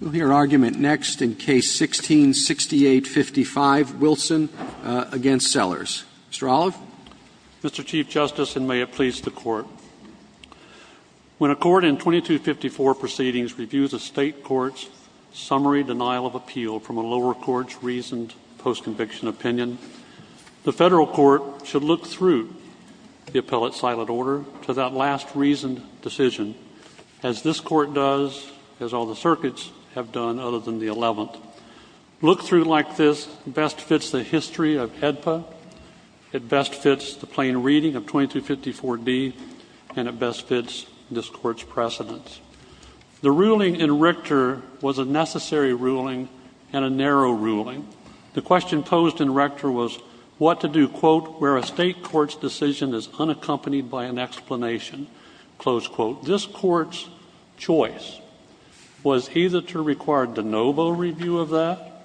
We'll hear argument next in Case 16-6855, Wilson v. Sellers. Mr. Olive. Mr. Chief Justice, and may it please the Court, when a court in 2254 proceedings reviews a State court's summary denial of appeal from a lower court's reasoned post-conviction opinion, the Federal court should look through the appellate silent order to that last reasoned decision, as this Court does, as all the circuits have done other than the 11th. Look through like this best fits the history of AEDPA, it best fits the plain reading of 2254d, and it best fits this Court's precedence. The ruling in Richter was a necessary ruling and a narrow ruling. The question posed in Richter was what to do, quote, where a State court's decision is unaccompanied by an explanation, close quote. This Court's choice was either to require de novo review of that,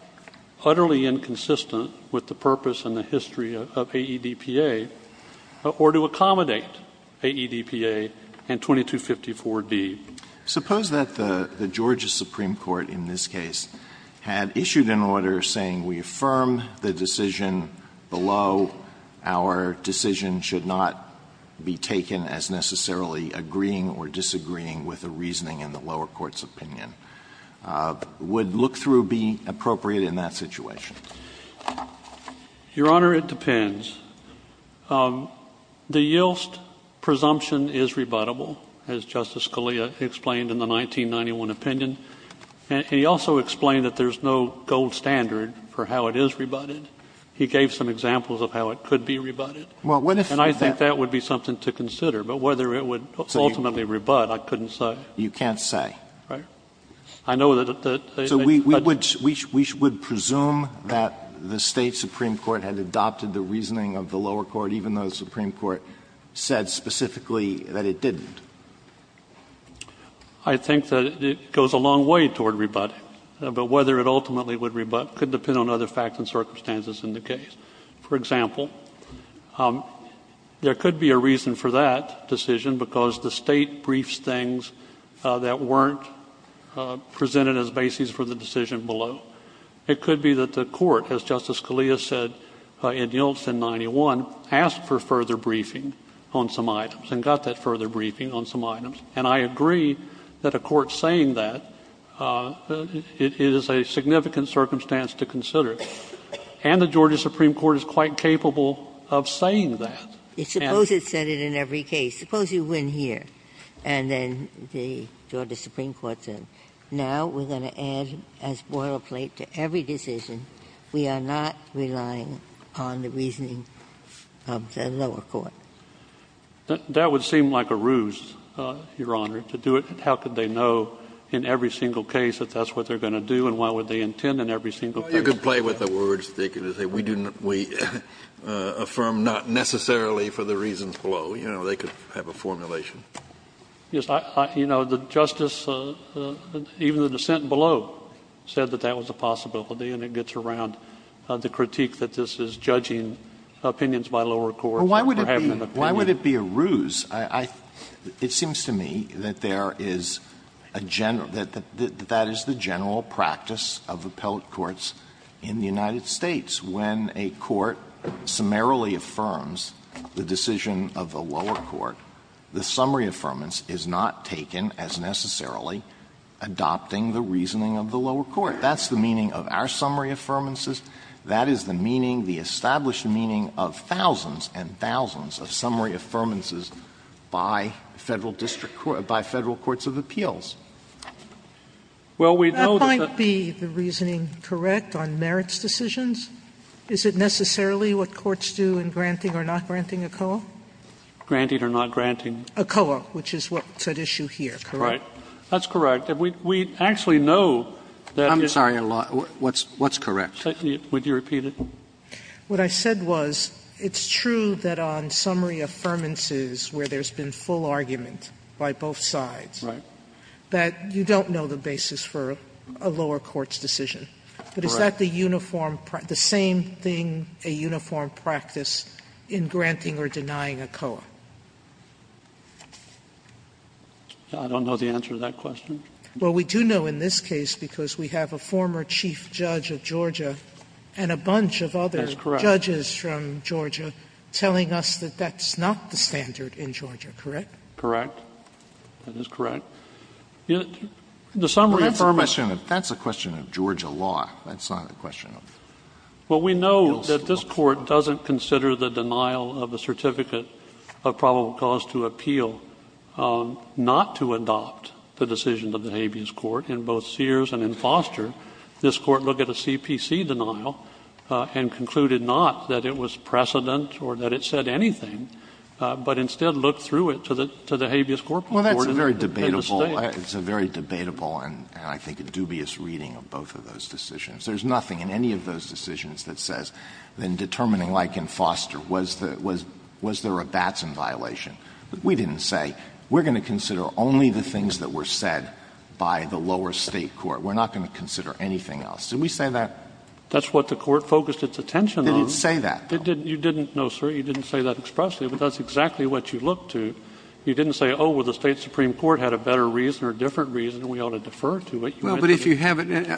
utterly inconsistent with the purpose and the history of AEDPA, or to accommodate AEDPA and 2254d. Suppose that the Georgia Supreme Court in this case had issued an order saying we affirm the decision below, our decision should not be taken as necessarily agreeing or disagreeing with a reasoning in the lower court's opinion. Would look through be appropriate in that situation? Your Honor, it depends. The Yilst presumption is rebuttable, as Justice Scalia explained in the 1991 opinion. And he also explained that there's no gold standard for how it is rebutted. He gave some examples of how it could be rebutted. And I think that would be something to consider. But whether it would ultimately rebut, I couldn't say. You can't say. Right. I know that they would. So we would presume that the State supreme court had adopted the reasoning of the I think that it goes a long way toward rebutting. But whether it ultimately would rebut could depend on other facts and circumstances in the case. For example, there could be a reason for that decision because the State briefs things that weren't presented as basis for the decision below. It could be that the Court, as Justice Scalia said in Yiltsin 91, asked for further briefing on some items. And I agree that a court saying that is a significant circumstance to consider. And the Georgia supreme court is quite capable of saying that. Suppose it said it in every case. Suppose you win here. And then the Georgia supreme court said, now we're going to add as boilerplate to every decision, we are not relying on the reasoning of the lower court. That would seem like a ruse, Your Honor, to do it. How could they know in every single case that that's what they're going to do? And what would they intend in every single case? Kennedy, you could play with the words. They could say we affirm not necessarily for the reasons below. You know, they could have a formulation. Yes. You know, the Justice, even the dissent below, said that that was a possibility. And it gets around the critique that this is judging opinions by lower courts. Well, why would it be a ruse? It seems to me that there is a general, that that is the general practice of appellate courts in the United States. When a court summarily affirms the decision of the lower court, the summary affirmance is not taken as necessarily adopting the reasoning of the lower court. That's the meaning of our summary affirmances. That is the meaning, the established meaning of thousands and thousands of summary affirmances by Federal district courts, by Federal courts of appeals. Well, we know that the That might be the reasoning correct on merits decisions. Is it necessarily what courts do in granting or not granting ACOA? Granted or not granting? ACOA, which is what's at issue here, correct? Right. That's correct. We actually know that the I'm sorry, Your Honor. What's correct? Would you repeat it? What I said was, it's true that on summary affirmances where there's been full argument by both sides, that you don't know the basis for a lower court's decision. Correct. But is that the uniform, the same thing, a uniform practice in granting or denying ACOA? I don't know the answer to that question. Well, we do know in this case because we have a former chief judge of Georgia and a bunch of other judges from Georgia telling us that that's not the standard in Georgia, correct? Correct. That is correct. The summary affirmation of that's a question of Georgia law. That's not a question of appeals law. Well, we know that this Court doesn't consider the denial of a certificate of probable cause to appeal, not to adopt the decision of the habeas court. In both Sears and in Foster, this Court looked at a CPC denial and concluded not that it was precedent or that it said anything, but instead looked through it to the habeas corporate court in the State. Well, that's a very debatable and I think a dubious reading of both of those decisions. There's nothing in any of those decisions that says in determining like in Foster, was there a Batson violation. We didn't say, we're going to consider only the things that were said by the lower State court. We're not going to consider anything else. Did we say that? That's what the Court focused its attention on. Did it say that? You didn't, no, sir. You didn't say that expressly, but that's exactly what you looked to. You didn't say, oh, well, the State supreme court had a better reason or a different reason and we ought to defer to it. Well, but if you haven't, I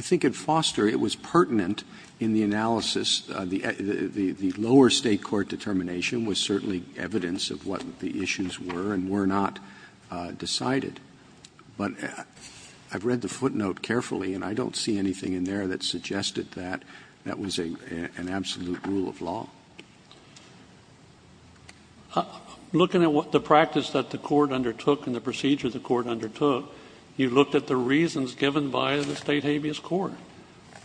think in Foster it was pertinent in the analysis, the lower State court determination was certainly evidence of what the issues were and were not decided. But I've read the footnote carefully and I don't see anything in there that suggested that that was an absolute rule of law. Looking at what the practice that the Court undertook and the procedure the Court undertook, you looked at the reasons given by the State habeas court.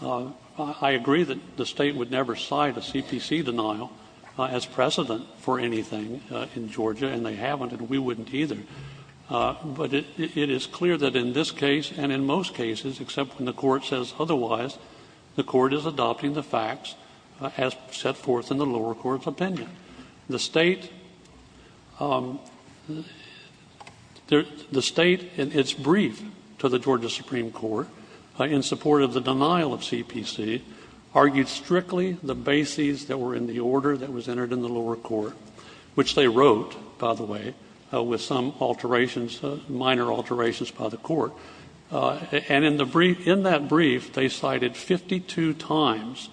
I agree that the State would never cite a CPC denial as precedent for anything in Georgia, and they haven't, and we wouldn't either. But it is clear that in this case and in most cases, except when the Court says otherwise, the Court is adopting the facts as set forth in the lower court's opinion. The State, the State in its brief to the Georgia supreme court in support of the denial of CPC, argued strictly the bases that were in the order that was entered in the lower court, which they wrote, by the way, with some alterations, minor alterations by the Court. And in the brief, in that brief, they cited 52 times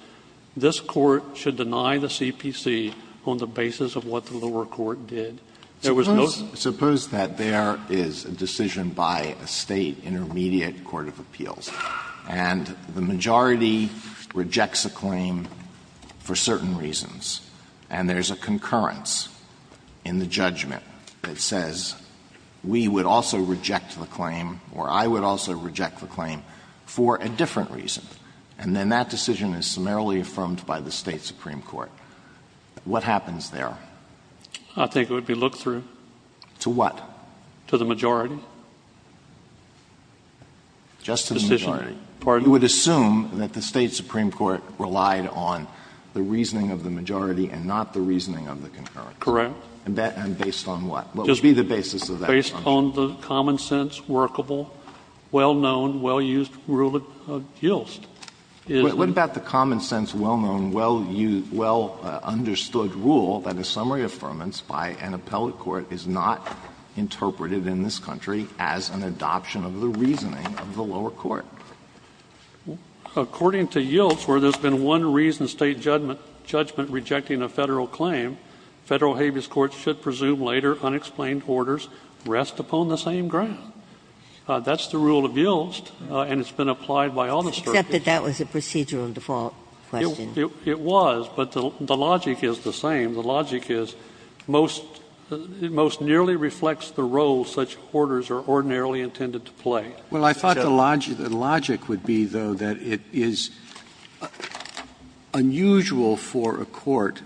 this Court should deny the CPC on the basis of what the lower court did. There was no such thing. Alitoson Suppose that there is a decision by a State intermediate court of appeals and the majority rejects a claim for certain reasons, and there is a concurrence in the judgment that says we would also reject the claim or I would also reject the claim for a different reason, and then that decision is summarily affirmed by the State supreme court. What happens there? I think it would be looked through. To what? To the majority. Just to the majority. You would assume that the State supreme court relied on the reasoning of the majority and not the reasoning of the concurrence. Correct. And based on what? What would be the basis of that assumption? Based on the common sense, workable, well-known, well-used rule of Gilst. What about the common sense, well-known, well-used, well-understood rule that a summary affirmance by an appellate court is not interpreted in this country as an adoption of the reasoning of the lower court? According to Gilst, where there has been one reason State judgment rejecting a Federal claim, Federal habeas courts should presume later unexplained orders rest upon the same ground. That's the rule of Gilst, and it's been applied by all the Strictly. Except that that was a procedural default question. It was, but the logic is the same. The logic is it most nearly reflects the role such orders are ordinarily intended to play. Well, I thought the logic would be, though, that it is unusual for a court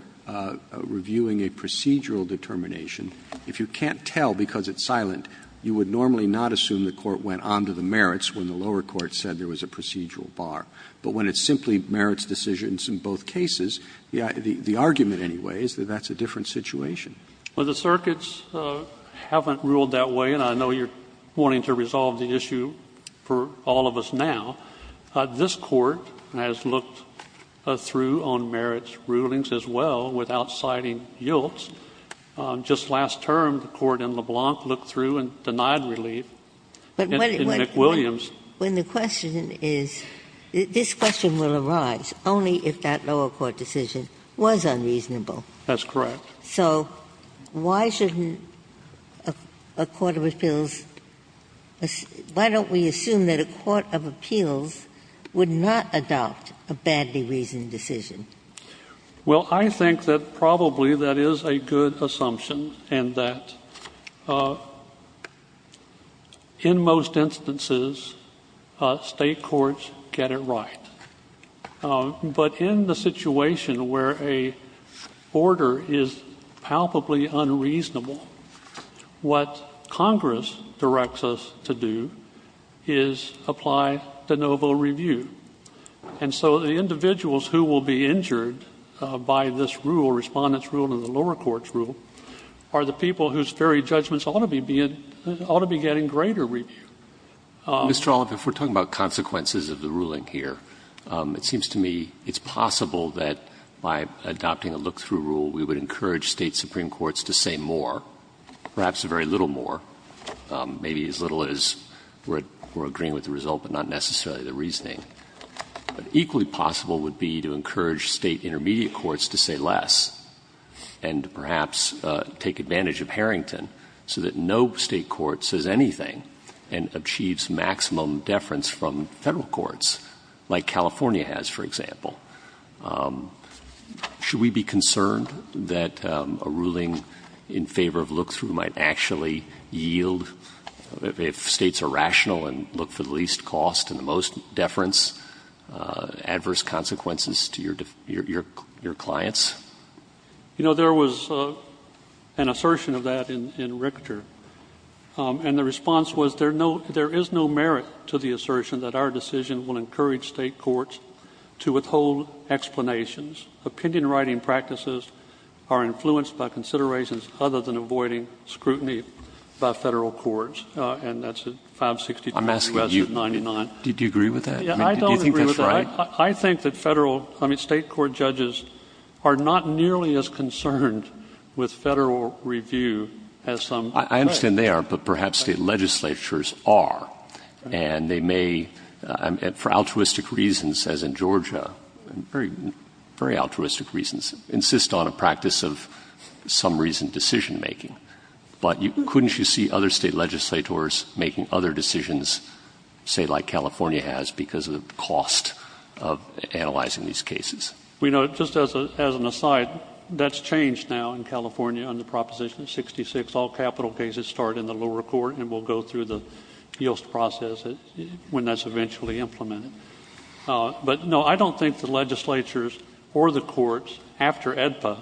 reviewing a procedural determination. If you can't tell because it's silent, you would normally not assume the court went on to the merits when the lower court said there was a procedural bar. But when it's simply merits decisions in both cases, the argument, anyway, is that that's a different situation. Well, the circuits haven't ruled that way, and I know you're wanting to resolve the issue for all of us now. This Court has looked through on merits rulings as well without citing Gilst. Just last term, the Court in LeBlanc looked through and denied relief. In McWilliams. But when the question is, this question will arise only if that lower court decision was unreasonable. That's correct. So why shouldn't a court of appeals – why don't we assume that a court of appeals would not adopt a badly reasoned decision? Well, I think that probably that is a good assumption and that in most instances state courts get it right. But in the situation where a order is palpably unreasonable, what Congress directs us to do is apply de novo review. And so the individuals who will be injured by this rule, Respondent's rule and the lower court's rule, are the people whose very judgments ought to be getting greater review. Mr. Olive, if we're talking about consequences of the ruling here, it seems to me it's possible that by adopting a look-through rule, we would encourage State supreme courts to say more, perhaps very little more, maybe as little as we're agreeing with the result but not necessarily the reasoning. But equally possible would be to encourage State intermediate courts to say less and perhaps take advantage of Harrington so that no State court says anything and achieves maximum deference from Federal courts, like California has, for example. Should we be concerned that a ruling in favor of look-through might actually yield, if States are rational and look for the least cost and the most deference, adverse consequences to your clients? You know, there was an assertion of that in Richter, and the response was there is no merit to the assertion that our decision will encourage State courts to withhold explanations. Opinion-writing practices are influenced by considerations other than avoiding scrutiny by Federal courts, and that's at 562 U.S. 99. I'm asking you, do you agree with that? Yeah, I don't agree with that. Do you think that's right? I think that Federal, I mean, State court judges are not nearly as concerned with Federal review as some. I understand they are, but perhaps State legislatures are, and they may, for altruistic reasons, as in Georgia, very altruistic reasons, insist on a practice of some reason decision-making. But couldn't you see other State legislators making other decisions, say, like California has, because of the cost of analyzing these cases? Well, you know, just as an aside, that's changed now in California under Proposition 66. All capital cases start in the lower court and will go through the Yost process when that's eventually implemented. But, no, I don't think the legislatures or the courts, after AEDPA,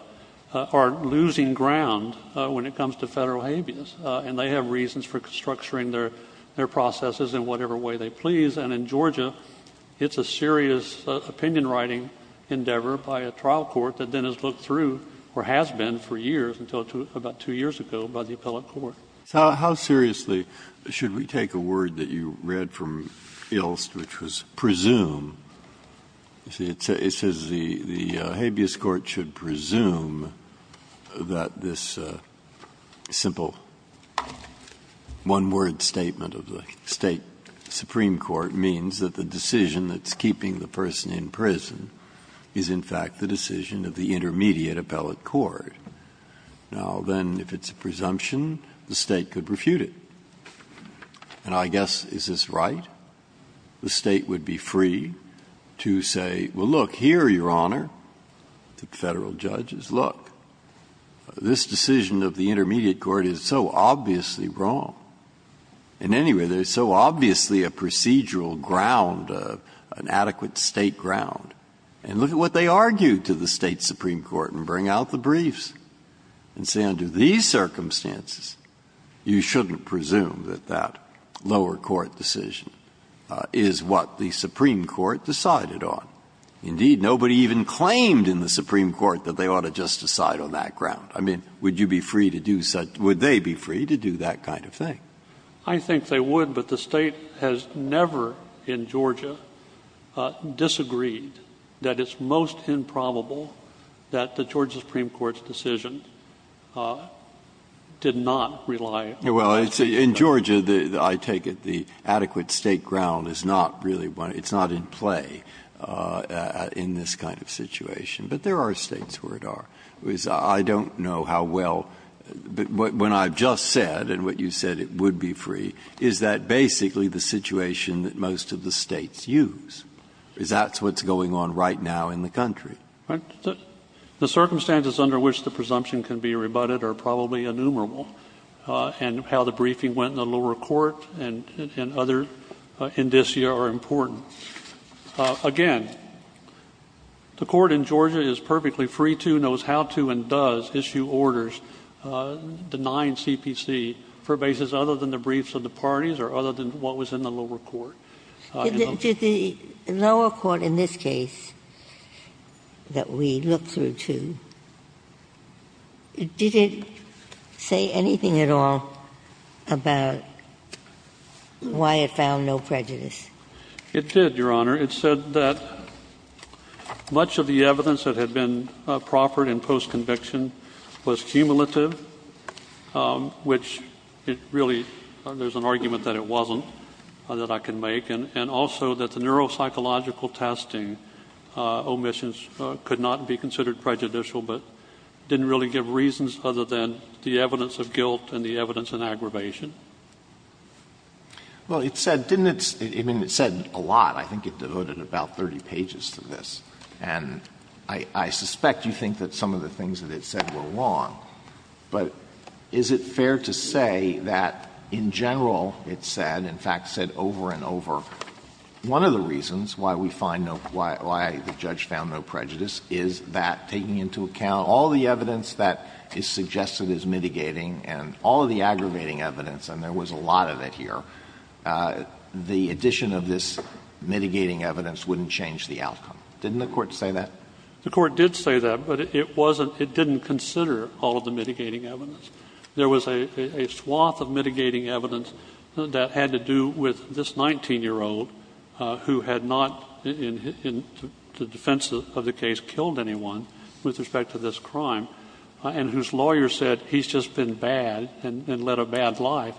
are losing ground when it comes to Federal habeas. And they have reasons for structuring their processes in whatever way they please. And in Georgia, it's a serious opinion-writing endeavor by a trial court that then has looked through or has been for years until about two years ago by the appellate court. So how seriously should we take a word that you read from Ilst, which was presume It says the habeas court should presume that this simple one-word statement of the State supreme court means that the decision that's keeping the person in prison is, in fact, the decision of the intermediate appellate court. Now, then, if it's a presumption, the State could refute it. And I guess, is this right? The State would be free to say, well, look, here, Your Honor, the Federal judges, look, this decision of the intermediate court is so obviously wrong. In any way, there's so obviously a procedural ground, an adequate State ground. And look at what they argue to the State supreme court and bring out the briefs and say, under these circumstances, you shouldn't presume that that lower court decision is what the supreme court decided on. Indeed, nobody even claimed in the supreme court that they ought to just decide on that ground. I mean, would you be free to do such – would they be free to do that kind of thing? I think they would, but the State has never in Georgia disagreed that it's most improbable that the Georgia supreme court's decision did not rely on that decision. Breyer. Well, in Georgia, I take it, the adequate State ground is not really one – it's not in play in this kind of situation. But there are States where it are. I don't know how well – what I've just said and what you said, it would be free, is that basically the situation that most of the States use, because that's what's going on right now in the country. The circumstances under which the presumption can be rebutted are probably innumerable. And how the briefing went in the lower court and other indicia are important. Again, the Court in Georgia is perfectly free to, knows how to, and does issue orders denying CPC for basis other than the briefs of the parties or other than what was in the lower court. Did the lower court in this case that we looked through to, did it say anything at all about why it found no prejudice? It did, Your Honor. It said that much of the evidence that had been proffered in post-conviction was cumulative, which it really – there's an argument that it wasn't, that I can make, and also that the neuropsychological testing omissions could not be considered prejudicial, but didn't really give reasons other than the evidence of guilt and the evidence in aggravation. Well, it said – didn't it – I mean, it said a lot. I think it devoted about 30 pages to this. And I suspect you think that some of the things that it said were wrong, but is it fair to say that in general it said, in fact said over and over, one of the reasons why we find no – why the judge found no prejudice is that taking into account all the evidence that is suggested as mitigating and all of the aggravating evidence, and there was a lot of it here, the addition of this mitigating evidence wouldn't change the outcome. Didn't the Court say that? The Court did say that, but it wasn't – it didn't consider all of the mitigating evidence. There was a swath of mitigating evidence that had to do with this 19-year-old who had not, in the defense of the case, killed anyone with respect to this crime and whose lawyer said, he's just been bad and led a bad life.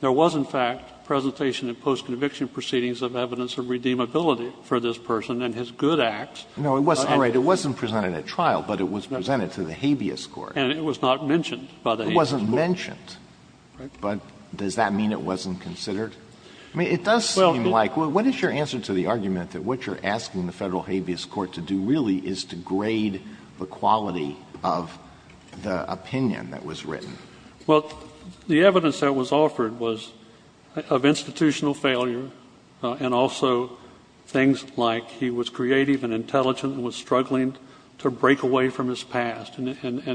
There was, in fact, presentation in post-conviction proceedings of evidence of redeemability for this person and his good acts. No, it wasn't, right. It wasn't presented at trial, but it was presented to the habeas court. And it was not mentioned by the habeas court. It wasn't mentioned. Right. But does that mean it wasn't considered? I mean, it does seem like – what is your answer to the argument that what you're asking the Federal habeas court to do really is to grade the quality of the opinion that was written? Well, the evidence that was offered was of institutional failure and also things like he was creative and intelligent and was struggling to break away from his past. And the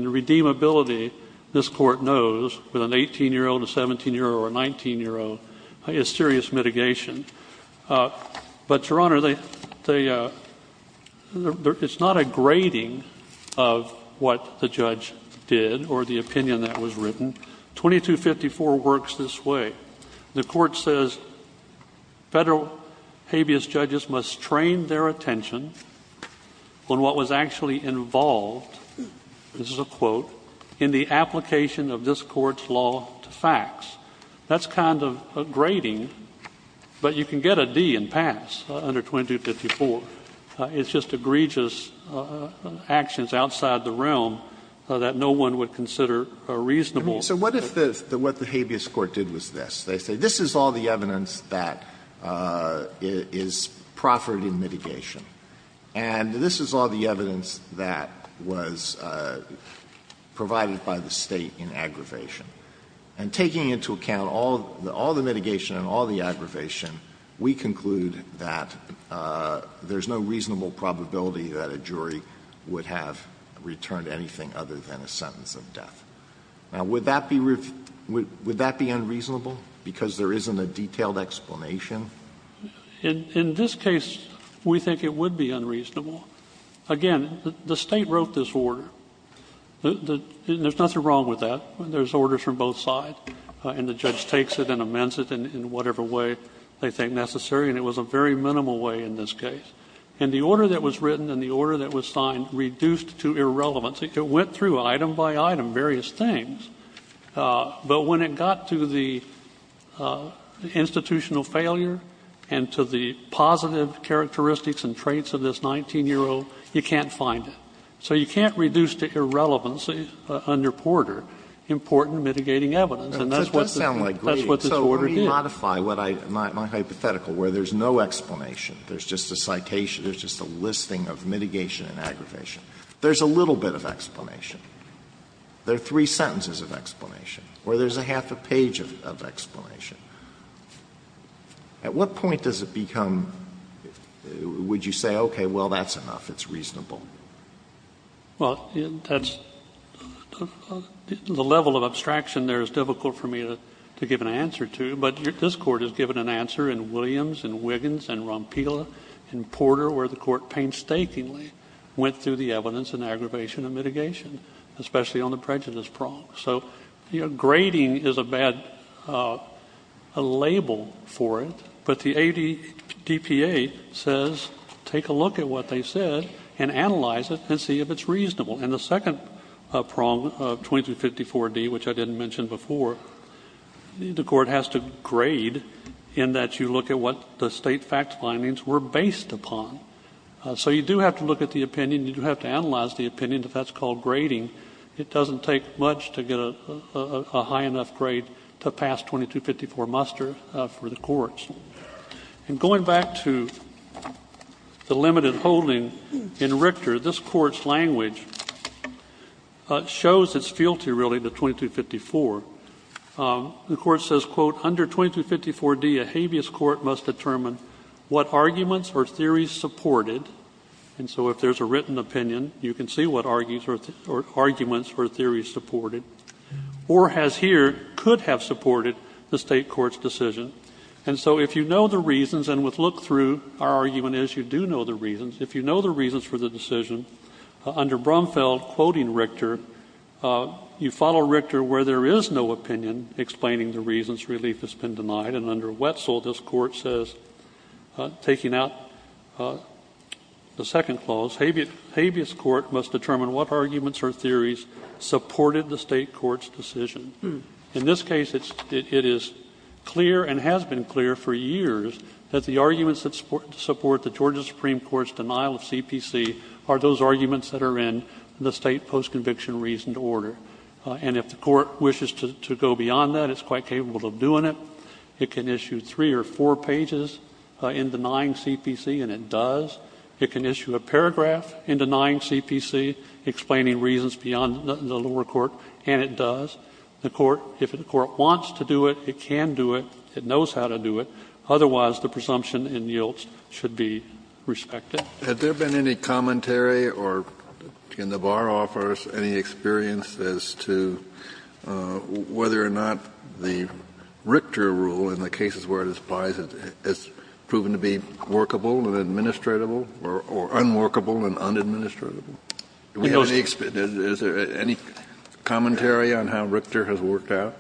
redeemability, this court knows, with an 18-year-old, a 17-year-old, or a 19-year-old is serious mitigation. But, Your Honor, it's not a grading of what the judge did or the opinion that was written. 2254 works this way. The court says Federal habeas judges must train their attention on what was actually involved, this is a quote, in the application of this court's law to facts. That's kind of a grading, but you can get a D and pass under 2254. It's just egregious actions outside the realm that no one would consider reasonable. So what if the what the habeas court did was this? They say this is all the evidence that is proffered in mitigation. And this is all the evidence that was provided by the State in aggravation. And taking into account all the mitigation and all the aggravation, we conclude that there's no reasonable probability that a jury would have returned anything other than a sentence of death. Now, would that be unreasonable because there isn't a detailed explanation? In this case, we think it would be unreasonable. Again, the State wrote this order. There's nothing wrong with that. There's orders from both sides. And the judge takes it and amends it in whatever way they think necessary, and it was a very minimal way in this case. And the order that was written and the order that was signed reduced to irrelevancy. It went through item by item various things. But when it got to the institutional failure and to the positive characteristics and traits of this 19-year-old, you can't find it. So you can't reduce to irrelevancy under Porter important mitigating evidence. And that's what this order did. Alito, that does sound like greed. So let me modify what I my hypothetical, where there's no explanation. There's just a listing of mitigation and aggravation. There's a little bit of explanation. There are three sentences of explanation, or there's a half a page of explanation. At what point does it become, would you say, okay, well, that's enough, it's reasonable? Well, that's the level of abstraction there is difficult for me to give an answer to, but this Court has given an answer in Williams and Wiggins and Rompila and Porter, where the Court painstakingly went through the evidence and aggravation and mitigation, especially on the prejudice prong. So grading is a bad label for it, but the ADPA says take a look at what they said and analyze it and see if it's reasonable. And the second prong of 2354D, which I didn't mention before, the Court has to grade in that you look at what the state fact findings were based upon. So you do have to look at the opinion. You do have to analyze the opinion if that's called grading. It doesn't take much to get a high enough grade to pass 2254 muster for the courts. And going back to the limited holding in Richter, this Court's language shows its fealty, really, to 2254. The Court says, quote, Under 2354D, a habeas court must determine what arguments or theories supported, and so if there's a written opinion, you can see what arguments or theories supported, or has here, could have supported, the state court's decision. And so if you know the reasons, and with look through, our argument is you do know the reasons, if you know the reasons for the decision, under Brumfeld, quoting Richter, you follow Richter where there is no opinion explaining the reasons relief has been denied, and under Wetzel, this Court says, taking out the second clause, habeas court must determine what arguments or theories supported the state court's decision. In this case, it is clear, and has been clear for years, that the arguments that support the Georgia Supreme Court's denial of CPC are those arguments that are in the state post-conviction reasoned order. And if the Court wishes to go beyond that, it's quite capable of doing it. It can issue three or four pages in denying CPC, and it does. It can issue a paragraph in denying CPC explaining reasons beyond the lower court, and it does. The Court, if the Court wants to do it, it can do it. It knows how to do it. Otherwise, the presumption in Yilts should be respected. Kennedy, had there been any commentary or, in the bar offers, any experience as to whether or not the Richter rule, in the cases where it applies, has proven to be workable and administratable, or unworkable and unadministratable? Do we have any experience? Is there any commentary on how Richter has worked out?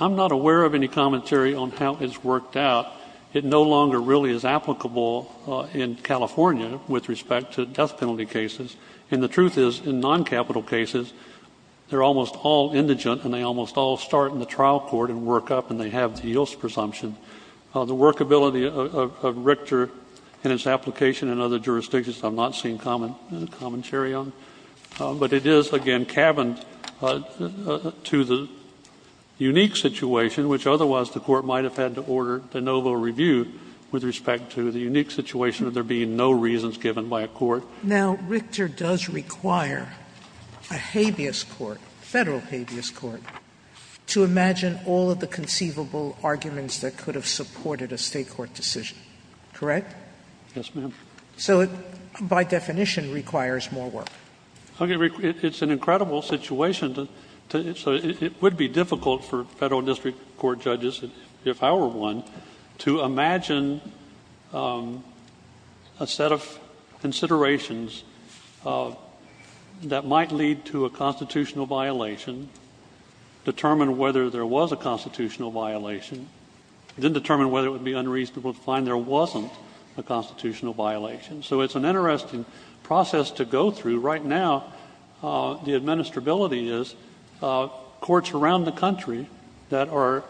I'm not aware of any commentary on how it's worked out. It no longer really is applicable in California with respect to death penalty cases. And the truth is, in noncapital cases, they're almost all indigent, and they almost all start in the trial court and work up, and they have the Yilts presumption. The workability of Richter and its application in other jurisdictions I've not seen commentary on. But it is, again, cabined to the unique situation, which otherwise the Court might have had to order de novo review with respect to the unique situation of there being no reasons given by a court. Now, Richter does require a habeas court, a Federal habeas court, to imagine all of the conceivable arguments that could have supported a State court decision. Correct? Yes, ma'am. So it, by definition, requires more work. Okay, Rick. It's an incredible situation. So it would be difficult for Federal District Court judges, if I were one, to imagine a set of considerations that might lead to a constitutional violation, determine whether there was a constitutional violation, then determine whether it would be unreasonable to find there wasn't a constitutional violation. So it's an interesting process to go through. Right now, the administrability is courts around the country that are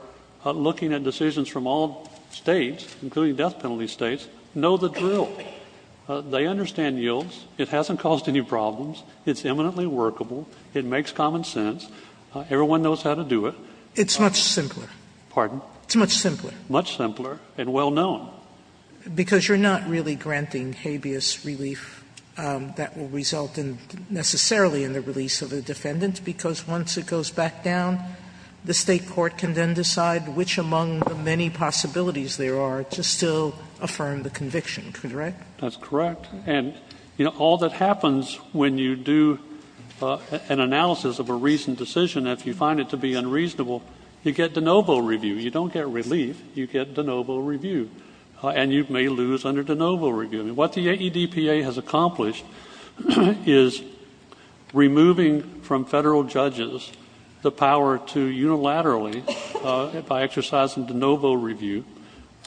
looking at decisions from all States, including death penalty States, know the drill. They understand yields. It hasn't caused any problems. It's eminently workable. It makes common sense. Everyone knows how to do it. It's much simpler. Pardon? It's much simpler. Much simpler and well known. Because you're not really granting habeas relief that will result in necessarily in the release of the defendant, because once it goes back down, the State court can then decide which among the many possibilities there are to still affirm the conviction, correct? That's correct. And, you know, all that happens when you do an analysis of a recent decision, if you find it to be unreasonable, you get de novo review. You don't get relief. You get de novo review. And you may lose under de novo review. What the AEDPA has accomplished is removing from Federal judges the power to unilaterally by exercising de novo review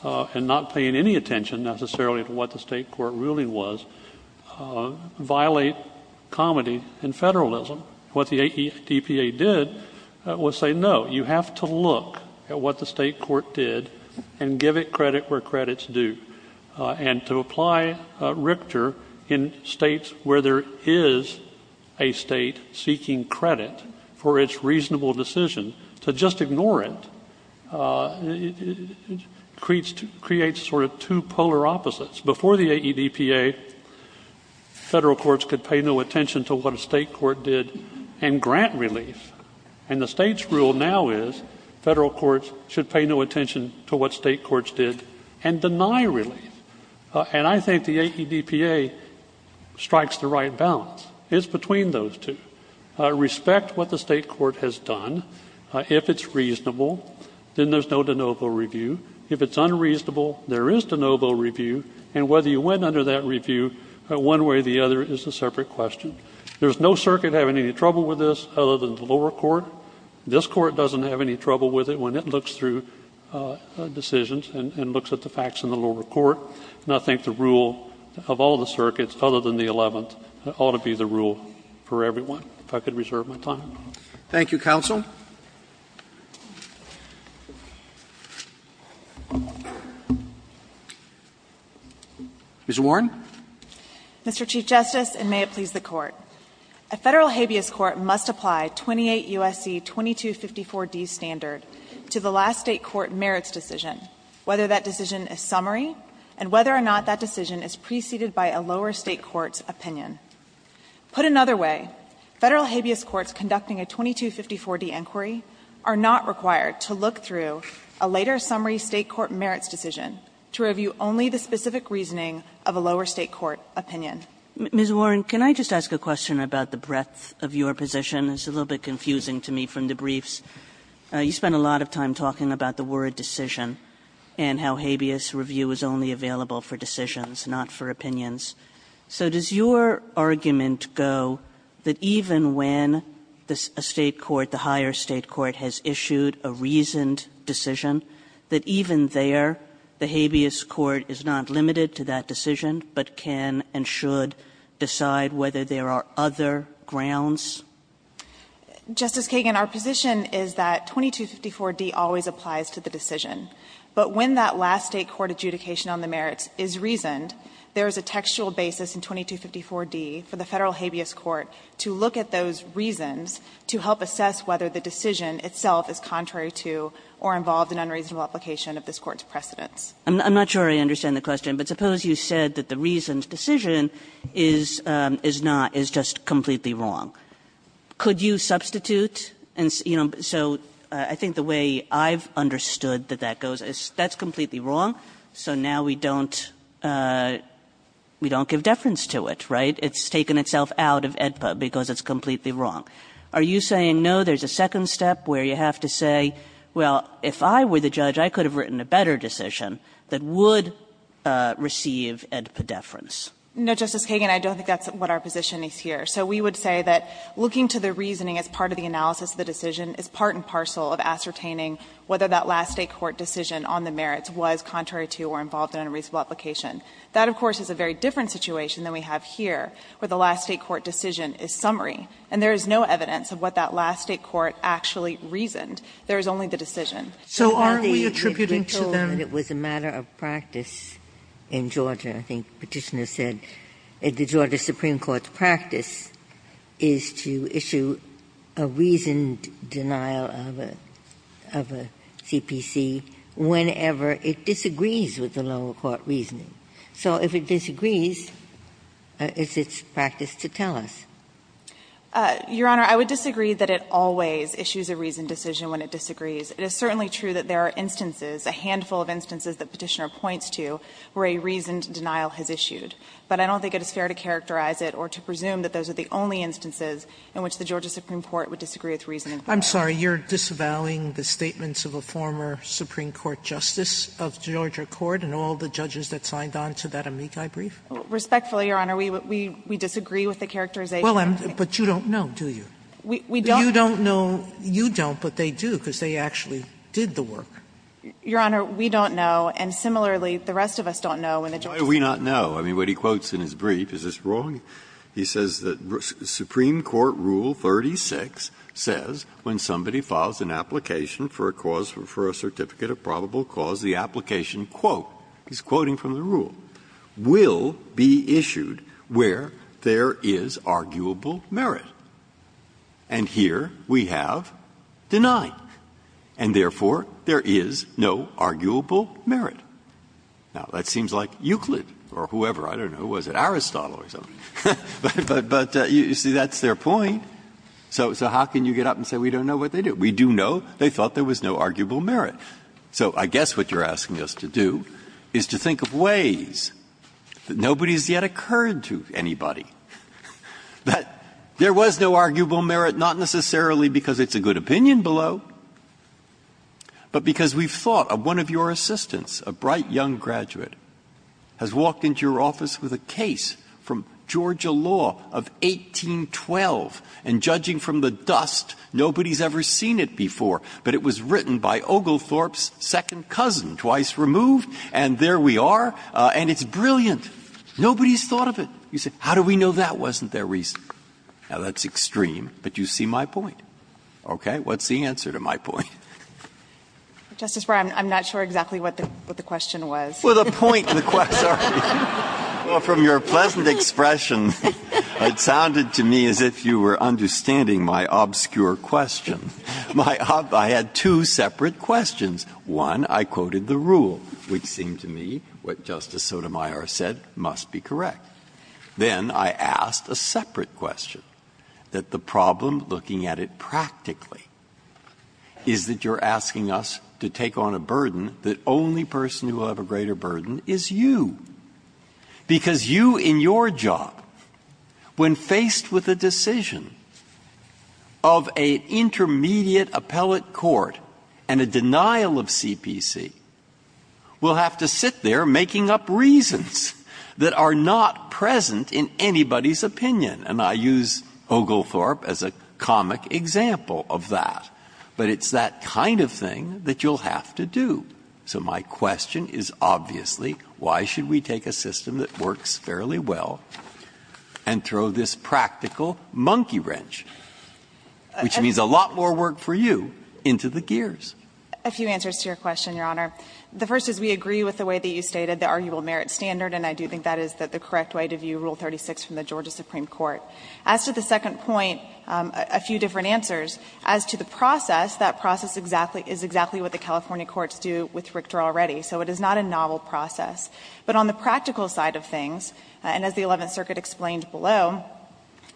and not paying any attention necessarily to what the State court ruling was, violate comity and Federalism. What the AEDPA did was say, no, you have to look at what the State court did and give it credit where credit's due. And to apply Richter in States where there is a State seeking credit for its reasonable decision to just ignore it creates sort of two polar opposites. Before the AEDPA, Federal courts could pay no attention to what a State court did and grant relief. And the State's rule now is Federal courts should pay no attention to what State courts did and deny relief. And I think the AEDPA strikes the right balance. It's between those two. Respect what the State court has done. If it's reasonable, then there's no de novo review. If it's unreasonable, there is de novo review. And whether you went under that review one way or the other is a separate question. There's no circuit having any trouble with this other than the lower court. This Court doesn't have any trouble with it when it looks through decisions and looks at the facts in the lower court. And I think the rule of all the circuits, other than the Eleventh, ought to be the rule for everyone, if I could reserve my time. Thank you, counsel. Ms. Warren. Mr. Chief Justice, and may it please the Court. A Federal habeas court must apply 28 U.S.C. 2254d standard to the last State court merits decision, whether that decision is summary and whether or not that decision is preceded by a lower State court's opinion. Put another way, Federal habeas courts conducting a 2254d inquiry are not required to look through a later summary State court merits decision to review only the specific reasoning of a lower State court opinion. Ms. Warren, can I just ask a question about the breadth of your position? It's a little bit confusing to me from the briefs. You spent a lot of time talking about the word decision and how habeas review is only available for decisions, not for opinions. So does your argument go that even when a State court, the higher State court has issued a reasoned decision, that even there the habeas court is not limited to that decision, but can and should decide whether there are other grounds? Justice Kagan, our position is that 2254d always applies to the decision. But when that last State court adjudication on the merits is reasoned, there is a textual basis in 2254d for the Federal habeas court to look at those reasons to help assess whether the decision itself is contrary to or involved in unreasonable application of this Court's precedents. I'm not sure I understand the question, but suppose you said that the reasoned decision that goes is that's completely wrong, so now we don't give deference to it, right? It's taken itself out of AEDPA because it's completely wrong. Are you saying, no, there's a second step where you have to say, well, if I were the judge, I could have written a better decision that would receive AEDPA deference? No, Justice Kagan, I don't think that's what our position is here. So we would say that looking to the reasoning as part of the analysis of the decision is part and parcel of ascertaining whether that last State court decision on the merits was contrary to or involved in unreasonable application. That, of course, is a very different situation than we have here, where the last State court decision is summary. And there is no evidence of what that last State court actually reasoned. There is only the decision. Ginsburg. So aren't we attributing to them? Ginsburg. It was a matter of practice in Georgia. I think Petitioner said the Georgia Supreme Court's practice is to issue a reasoned denial of a CPC whenever it disagrees with the lower court reasoning. So if it disagrees, it's its practice to tell us. Your Honor, I would disagree that it always issues a reasoned decision when it disagrees. It is certainly true that there are instances, a handful of instances that Petitioner points to where a reasoned denial has issued. But I don't think it is fair to characterize it or to presume that those are the only instances in which the Georgia Supreme Court would disagree with reasoned denial. I'm sorry. You're disavowing the statements of a former Supreme Court justice of Georgia Court and all the judges that signed on to that Amici brief? Respectfully, Your Honor. We disagree with the characterization. Well, but you don't know, do you? We don't. You don't know. You don't, but they do, because they actually did the work. Your Honor, we don't know. And similarly, the rest of us don't know. Why do we not know? I mean, what he quotes in his brief, is this wrong? He says that Supreme Court Rule 36 says when somebody files an application for a cause for a certificate of probable cause, the application, quote, he's quoting from the rule, will be issued where there is arguable merit. And here we have denied. And therefore, there is no arguable merit. Now, that seems like Euclid or whoever. I don't know. Was it Aristotle or something? But you see, that's their point. So how can you get up and say we don't know what they did? We do know they thought there was no arguable merit. So I guess what you're asking us to do is to think of ways that nobody has yet occurred to anybody that there was no arguable merit, not necessarily because it's a good opinion below, but because we've thought of one of your assistants, a bright young graduate, has walked into your office with a case from Georgia law of 1812, and judging from the dust, nobody's ever seen it before, but it was written by Oglethorpe's second cousin, twice removed, and there we are, and it's brilliant. Nobody's thought of it. You say, how do we know that wasn't their reason? Now, that's extreme, but you see my point. Okay? What's the answer to my point? Justice Breyer, I'm not sure exactly what the question was. Well, the point, the question, sorry. Well, from your pleasant expression, it sounded to me as if you were understanding my obscure question. I had two separate questions. One, I quoted the rule, which seemed to me what Justice Sotomayor said must be correct. Then I asked a separate question, that the problem, looking at it practically, is that you're asking us to take on a burden that only person who will have a greater burden is you, because you in your job, when faced with a decision of an intermediate appellate court and a denial of CPC, will have to sit there making up reasons that are not present in anybody's opinion, and I use Oglethorpe as a comic example of that, but it's that kind of thing that you'll have to do. So my question is, obviously, why should we take a system that works fairly well and throw this practical monkey wrench, which means a lot more work for you, into the gears? A few answers to your question, Your Honor. The first is we agree with the way that you stated the arguable merit standard, and I do think that is the correct way to view Rule 36 from the Georgia Supreme Court. As to the second point, a few different answers. As to the process, that process is exactly what the California courts do with Richter already, so it is not a novel process. But on the practical side of things, and as the Eleventh Circuit explained below,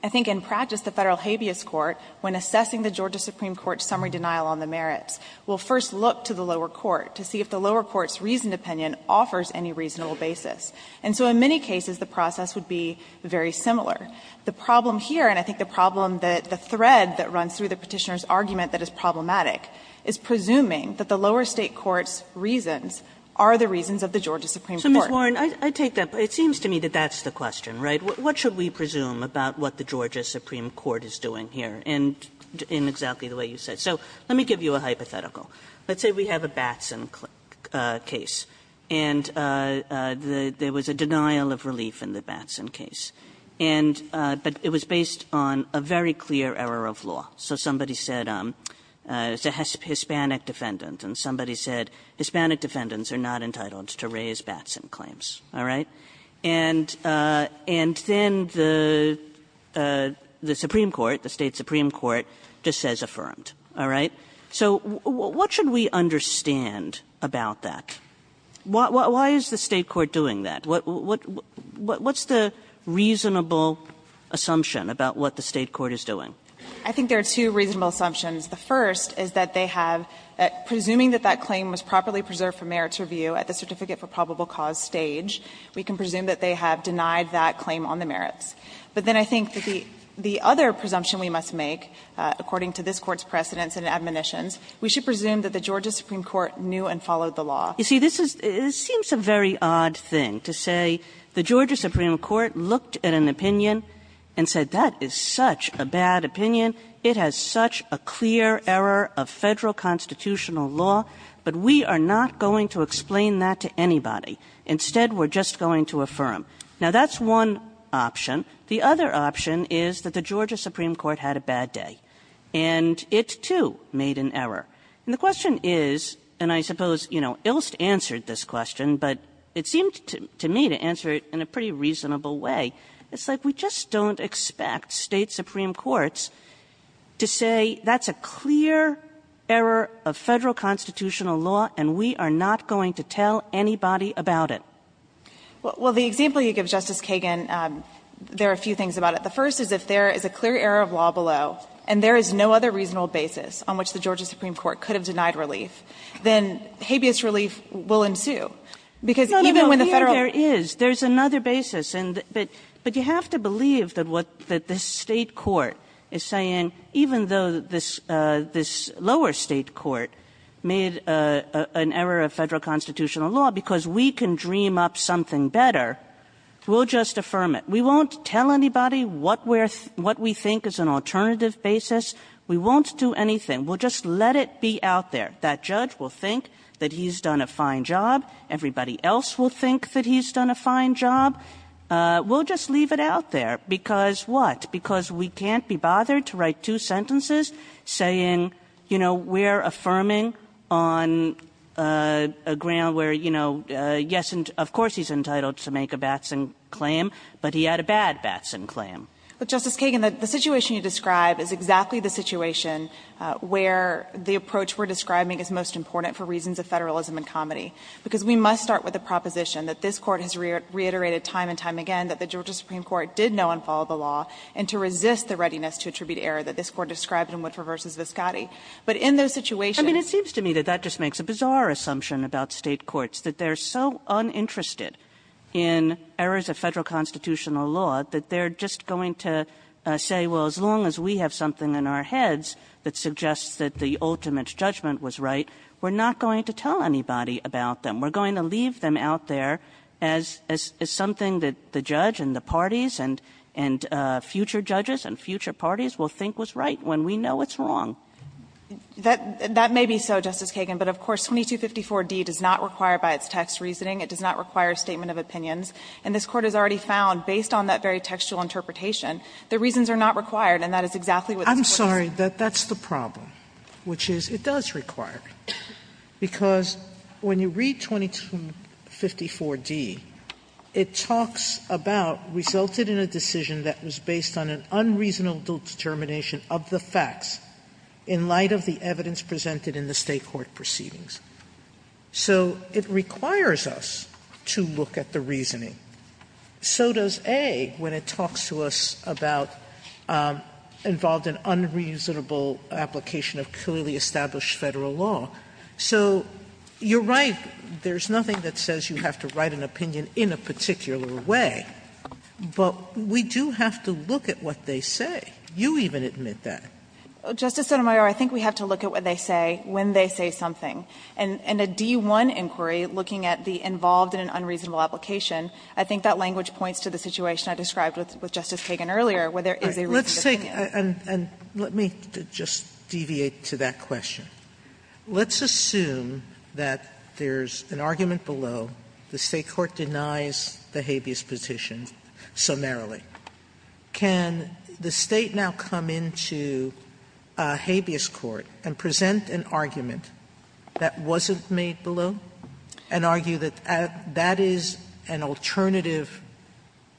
I think in practice the Federal habeas court, when assessing the Georgia Supreme Court's summary denial on the merits, will first look to the lower court to see if the lower court's reasoned opinion offers any reasonable basis. And so in many cases the process would be very similar. The problem here, and I think the problem that the thread that runs through the Petitioner's argument that is problematic, is presuming that the lower state court's reasons are the reasons of the Georgia Supreme Court. Kagan So, Ms. Warren, I take that. It seems to me that that's the question, right? What should we presume about what the Georgia Supreme Court is doing here? And in exactly the way you said. So let me give you a hypothetical. Let's say we have a Batson case. And there was a denial of relief in the Batson case. And but it was based on a very clear error of law. So somebody said it's a Hispanic defendant. And somebody said Hispanic defendants are not entitled to raise Batson claims. All right? And then the Supreme Court, the State Supreme Court, just says affirmed. All right? So what should we understand about that? Why is the State court doing that? What's the reasonable assumption about what the State court is doing? Warren I think there are two reasonable assumptions. The first is that they have, presuming that that claim was properly preserved for merits review at the Certificate for Probable Cause stage, we can presume that they have denied that claim on the merits. But then I think the other presumption we must make, according to this Court's precedents and admonitions, we should presume that the Georgia Supreme Court knew and followed the law. Kagan You see, this is seems a very odd thing to say the Georgia Supreme Court looked at an opinion and said that is such a bad opinion. It has such a clear error of Federal constitutional law. But we are not going to explain that to anybody. Instead, we're just going to affirm. Now, that's one option. The other option is that the Georgia Supreme Court had a bad day. And it, too, made an error. And the question is, and I suppose, you know, Ilst answered this question. But it seemed to me to answer it in a pretty reasonable way. It's like we just don't expect State supreme courts to say that's a clear error of Federal constitutional law and we are not going to tell anybody about it. Warren Well, the example you give, Justice Kagan, there are a few things about it. The first is if there is a clear error of law below and there is no other reasonable basis on which the Georgia Supreme Court could have denied relief, then habeas relief will ensue. Because even when the Federal Kagan No, no, no. Here there is. There is another basis. But you have to believe that what this State court is saying, even though this lower State court made an error of Federal constitutional law because we can dream up something better, we'll just affirm it. We won't tell anybody what we think is an alternative basis. We won't do anything. We'll just let it be out there. That judge will think that he's done a fine job. Everybody else will think that he's done a fine job. We'll just leave it out there. Because what? Because we can't be bothered to write two sentences saying, you know, we're affirming on a ground where, you know, yes, of course he's entitled to make a Batson claim, but he had a bad Batson claim. But, Justice Kagan, the situation you describe is exactly the situation where the approach we're describing is most important for reasons of Federalism and comedy. Because we must start with the proposition that this Court has reiterated time and time again that the Georgia Supreme Court did know and followed the law and to resist the readiness to attribute error that this Court described in Woodford v. Viscotti. But in those situations ---- I mean, it seems to me that that just makes a bizarre assumption about State courts, that they're so uninterested in errors of Federal constitutional law that they're just going to say, well, as long as we have something in our heads that suggests that the ultimate judgment was right, we're not going to tell anybody about them. We're going to leave them out there as something that the judge and the parties and future judges and future parties will think was right when we know it's wrong. That may be so, Justice Kagan. But, of course, 2254d does not require by its text reasoning. It does not require a statement of opinions. And this Court has already found, based on that very textual interpretation, the reasons are not required. And that is exactly what this Court is saying. Sotomayor, I'm sorry, but that's the problem, which is it does require. Because when you read 2254d, it talks about resulted in a decision that was based on an unreasonable determination of the facts in light of the evidence presented in the State court proceedings. So it requires us to look at the reasoning. So does A, when it talks to us about involved in unreasonable application of clearly established Federal law. So you're right, there's nothing that says you have to write an opinion in a particular way, but we do have to look at what they say. You even admit that. Justice Sotomayor, I think we have to look at what they say when they say something. And in a D-1 inquiry, looking at the involved in an unreasonable application, I think that language points to the situation I described with Justice Kagan earlier, where there is a reasoned opinion. Sotomayor, and let me just deviate to that question. Let's assume that there's an argument below. The State court denies the habeas petition summarily. Can the State now come into a habeas court and present an argument? That wasn't made below, and argue that that is an alternative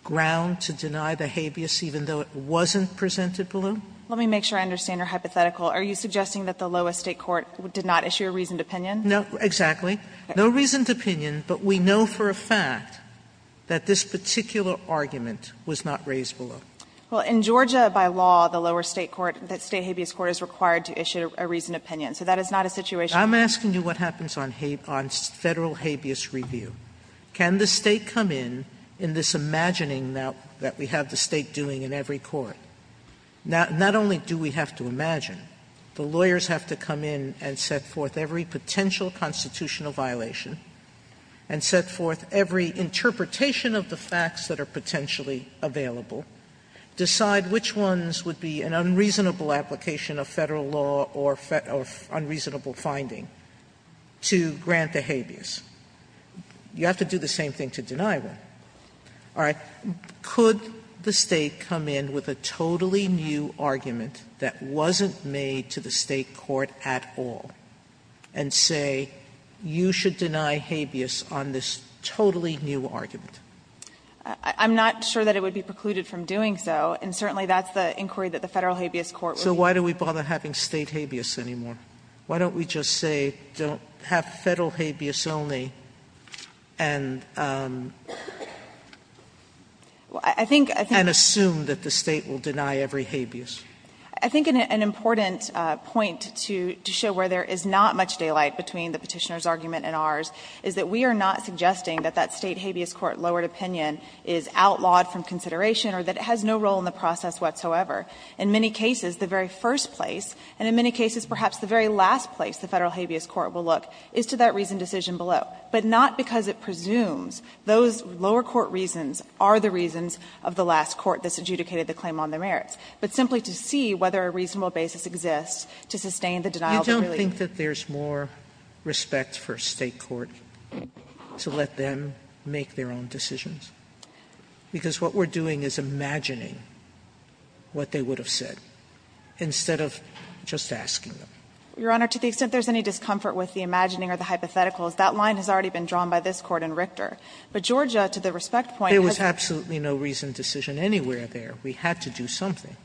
ground to deny the habeas even though it wasn't presented below? Let me make sure I understand your hypothetical. Are you suggesting that the lowest State court did not issue a reasoned opinion? No, exactly. No reasoned opinion, but we know for a fact that this particular argument was not raised below. Well, in Georgia, by law, the lower State court, the State habeas court is required to issue a reasoned opinion. So that is not a situational argument. Sotomayor, I'm asking you what happens on federal habeas review. Can the State come in in this imagining that we have the State doing in every court? Not only do we have to imagine, the lawyers have to come in and set forth every potential constitutional violation and set forth every interpretation of the facts that are potentially available, decide which ones would be an unreasonable application of Federal law or unreasonable finding to grant the habeas. You have to do the same thing to deny one. All right. Could the State come in with a totally new argument that wasn't made to the State court at all and say you should deny habeas on this totally new argument? I'm not sure that it would be precluded from doing so, and certainly that's the inquiry that the Federal habeas court would be. So why do we bother having State habeas anymore? Why don't we just say don't have Federal habeas only and assume that the State will deny every habeas? I think an important point to show where there is not much daylight between the Petitioner's argument and ours is that we are not suggesting that that State habeas court lowered opinion is outlawed from consideration or that it has no role in the process whatsoever. In many cases, the very first place, and in many cases perhaps the very last place the Federal habeas court will look, is to that reasoned decision below, but not because it presumes those lower court reasons are the reasons of the last court that's adjudicated the claim on their merits, but simply to see whether a reasonable basis exists to sustain the denial. Sotomayor, you don't think that there's more respect for State court to let them make their own decisions? Because what we're doing is imagining what they would have said instead of just asking them. Your Honor, to the extent there's any discomfort with the imagining or the hypotheticals, that line has already been drawn by this Court in Richter. But Georgia, to the respect point, hasn't. There was absolutely no reasoned decision anywhere there. We had to do something.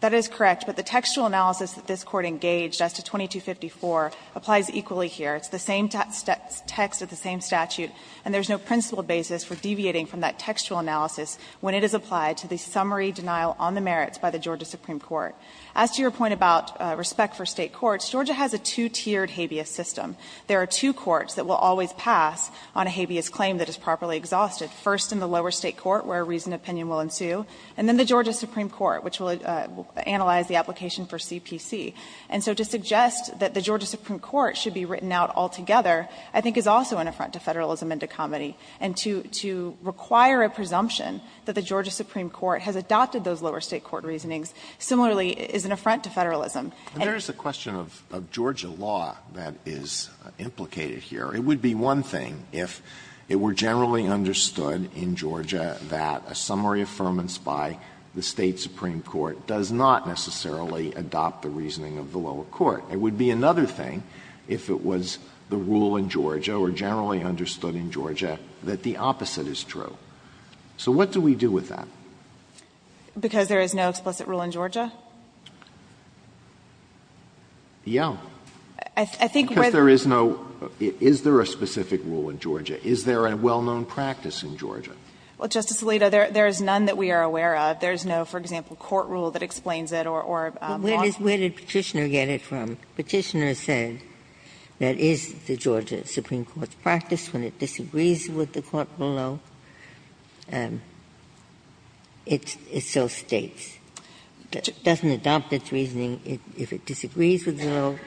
That is correct. But the textual analysis that this Court engaged as to 2254 applies equally here. It's the same text of the same statute, and there's no principled basis for deviating from that textual analysis when it is applied to the summary denial on the merits by the Georgia Supreme Court. As to your point about respect for State courts, Georgia has a two-tiered habeas system. There are two courts that will always pass on a habeas claim that is properly exhausted, first in the lower State court where reasoned opinion will ensue, and then the Georgia Supreme Court, which will analyze the application for CPC. And so to suggest that the Georgia Supreme Court should be written out altogether I think is also an affront to Federalism and to comedy. And to require a presumption that the Georgia Supreme Court has adopted those lower State court reasonings similarly is an affront to Federalism. And there is a question of Georgia law that is implicated here. It would be one thing if it were generally understood in Georgia that a summary affirmance by the State Supreme Court does not necessarily adopt the reasoning of the lower court. It would be another thing if it was the rule in Georgia or generally understood in Georgia that the opposite is true. So what do we do with that? Because there is no explicit rule in Georgia? Yeah. I think whether there is no Is there a specific rule in Georgia? Is there a well-known practice in Georgia? Well, Justice Alito, there is none that we are aware of. There is no, for example, court rule that explains it or law. Where did Petitioner get it from? Petitioner said that is the Georgia Supreme Court's practice when it disagrees with the court below, it still States. It doesn't adopt its reasoning. If it disagrees with the lower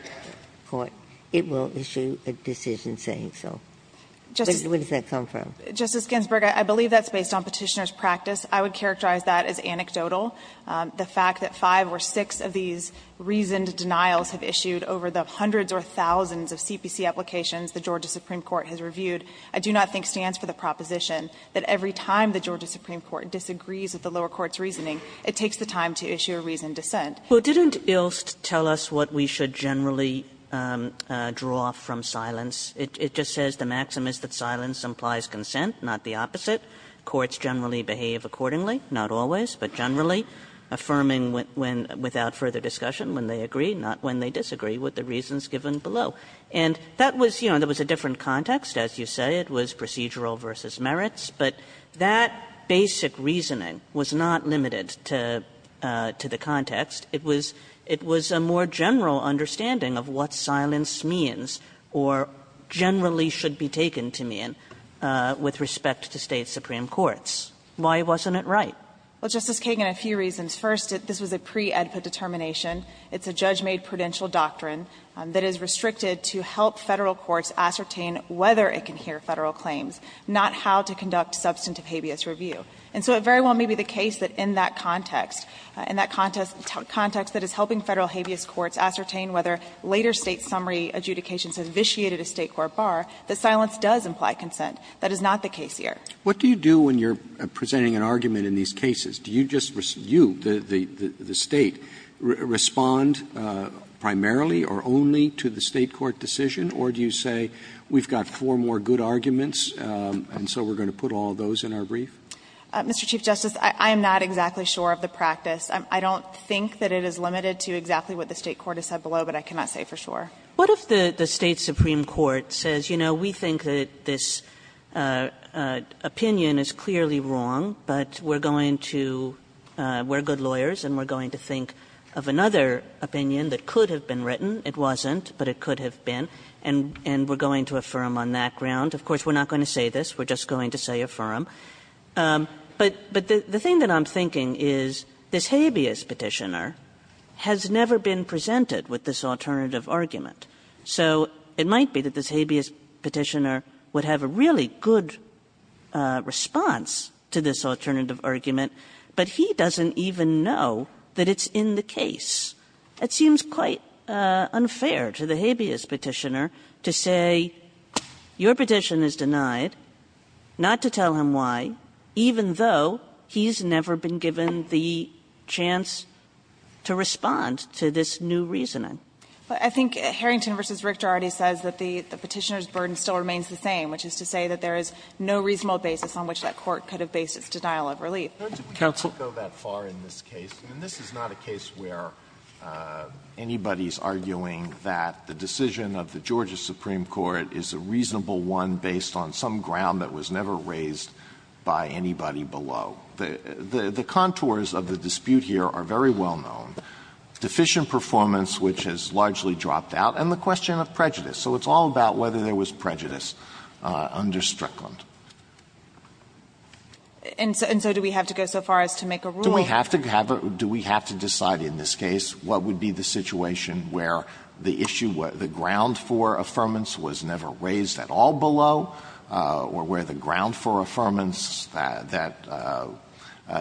court, it will issue a decision saying so. Where does that come from? Justice Ginsburg, I believe that's based on Petitioner's practice. I would characterize that as anecdotal. The fact that five or six of these reasoned denials have issued over the hundreds or thousands of CPC applications the Georgia Supreme Court has reviewed, I do not think stands for the proposition that every time the Georgia Supreme Court disagrees with the lower court's reasoning, it takes the time to issue a reasoned dissent. Well, didn't Ilst tell us what we should generally draw from silence? It just says the maxim is that silence implies consent, not the opposite. Courts generally behave accordingly, not always, but generally, affirming without further discussion when they agree, not when they disagree, with the reasons given below. And that was, you know, that was a different context, as you say. It was procedural versus merits, but that basic reasoning was not limited to the context. It was a more general understanding of what silence means or generally should be taken to mean with respect to State supreme courts. Why wasn't it right? Well, Justice Kagan, a few reasons. First, this was a pre-Edput determination. It's a judge-made prudential doctrine that is restricted to help Federal courts ascertain whether it can hear Federal claims, not how to conduct substantive habeas review. And so it very well may be the case that in that context, in that context that is helping Federal habeas courts ascertain whether later State summary adjudications have vitiated a State court bar, that silence does imply consent. That is not the case here. What do you do when you're presenting an argument in these cases? Do you just, you, the State, respond primarily or only to the State court decision? Or do you say, we've got four more good arguments and so we're going to put all those in our brief? Mr. Chief Justice, I am not exactly sure of the practice. I don't think that it is limited to exactly what the State court has said below, but I cannot say for sure. What if the State supreme court says, you know, we think that this opinion is clearly wrong, but we're going to we're good lawyers and we're going to think of another opinion that could have been written. It wasn't, but it could have been. And we're going to affirm on that ground. Of course, we're not going to say this. We're just going to say affirm. But the thing that I'm thinking is this habeas Petitioner has never been presented with this alternative argument. So it might be that this habeas Petitioner would have a really good response to this alternative argument, but he doesn't even know that it's in the case. It seems quite unfair to the habeas Petitioner to say, your petition is denied, not to tell him why, even though he's never been given the chance to respond to this new reasoning. I think Harrington v. Richter already says that the Petitioner's burden still remains the same, which is to say that there is no reasonable basis on which that court could have based its denial of relief. Counsel. We don't go that far in this case. And this is not a case where anybody is arguing that the decision of the Georgia Supreme Court is a reasonable one based on some ground that was never raised by anybody below. The contours of the dispute here are very well known. Deficient performance, which has largely dropped out, and the question of prejudice. So it's all about whether there was prejudice under Strickland. And so do we have to go so far as to make a rule? Do we have to have a do we have to decide in this case what would be the situation where the issue, the ground for affirmance was never raised at all below, or where the ground for affirmance that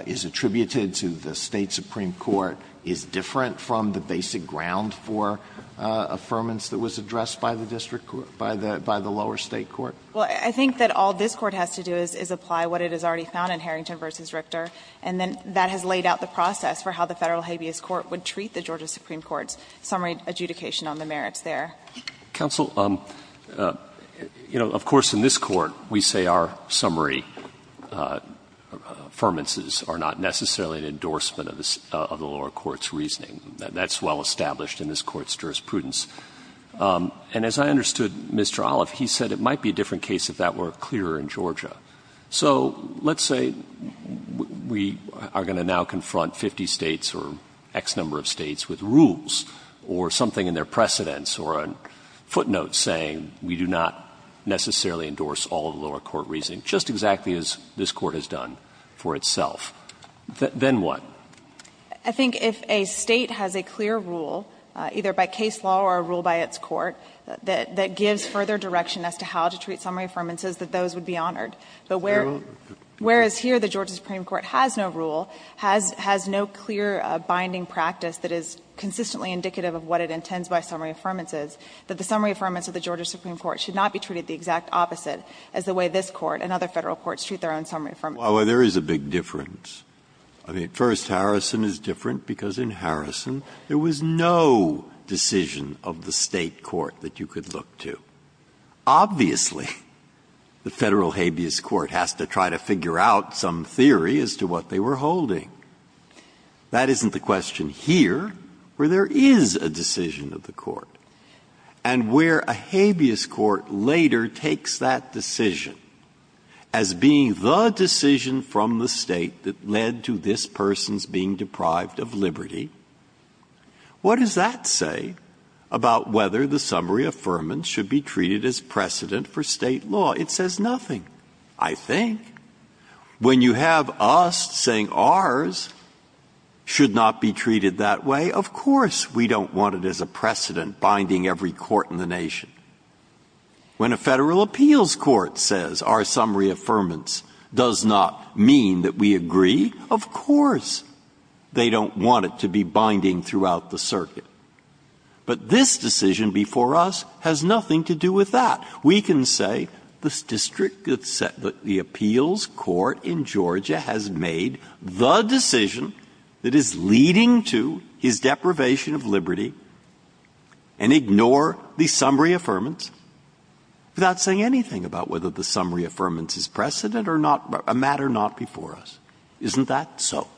is attributed to the State supreme court is different from the basic ground for affirmance that was addressed by the district court, by the lower state court? Well, I think that all this Court has to do is apply what it has already found in Harrington v. Richter. And then that has laid out the process for how the Federal habeas court would treat the Georgia supreme court's summary adjudication on the merits there. Counsel, you know, of course, in this Court we say our summary affirmances are not necessarily an endorsement of the lower court's reasoning. That's well established in this Court's jurisprudence. And as I understood Mr. Olive, he said it might be a different case if that were clearer in Georgia. So let's say we are going to now confront 50 States or X number of States with rules or something in their precedents or on footnotes saying we do not necessarily endorse all of the lower court reasoning, just exactly as this Court has done for itself. Then what? I think if a State has a clear rule, either by case law or a rule by its court, that gives further direction as to how to treat summary affirmances, that those would be honored. But where as here the Georgia supreme court has no rule, has no clear binding practice that is consistently indicative of what it intends by summary affirmances, that the summary affirmance of the Georgia supreme court should not be treated the exact opposite as the way this Court and other Federal courts treat their own summary affirmances. Breyer, there is a big difference. I mean, first, Harrison is different, because in Harrison there was no decision of the State court that you could look to. Obviously, the Federal habeas court has to try to figure out some theory as to what they were holding. That isn't the question here, where there is a decision of the court, and where a habeas court later takes that decision as being the decision from the State that What does that say about whether the summary affirmance should be treated as precedent for State law? It says nothing, I think. When you have us saying ours should not be treated that way, of course we don't want it as a precedent binding every court in the nation. When a Federal appeals court says our summary affirmance does not mean that we agree, of course they don't want it to be binding throughout the circuit. But this decision before us has nothing to do with that. We can say the district that set the appeals court in Georgia has made the decision that is leading to his deprivation of liberty and ignore the summary affirmance without saying anything about whether the summary affirmance is precedent or not, a matter not before us. Isn't that so?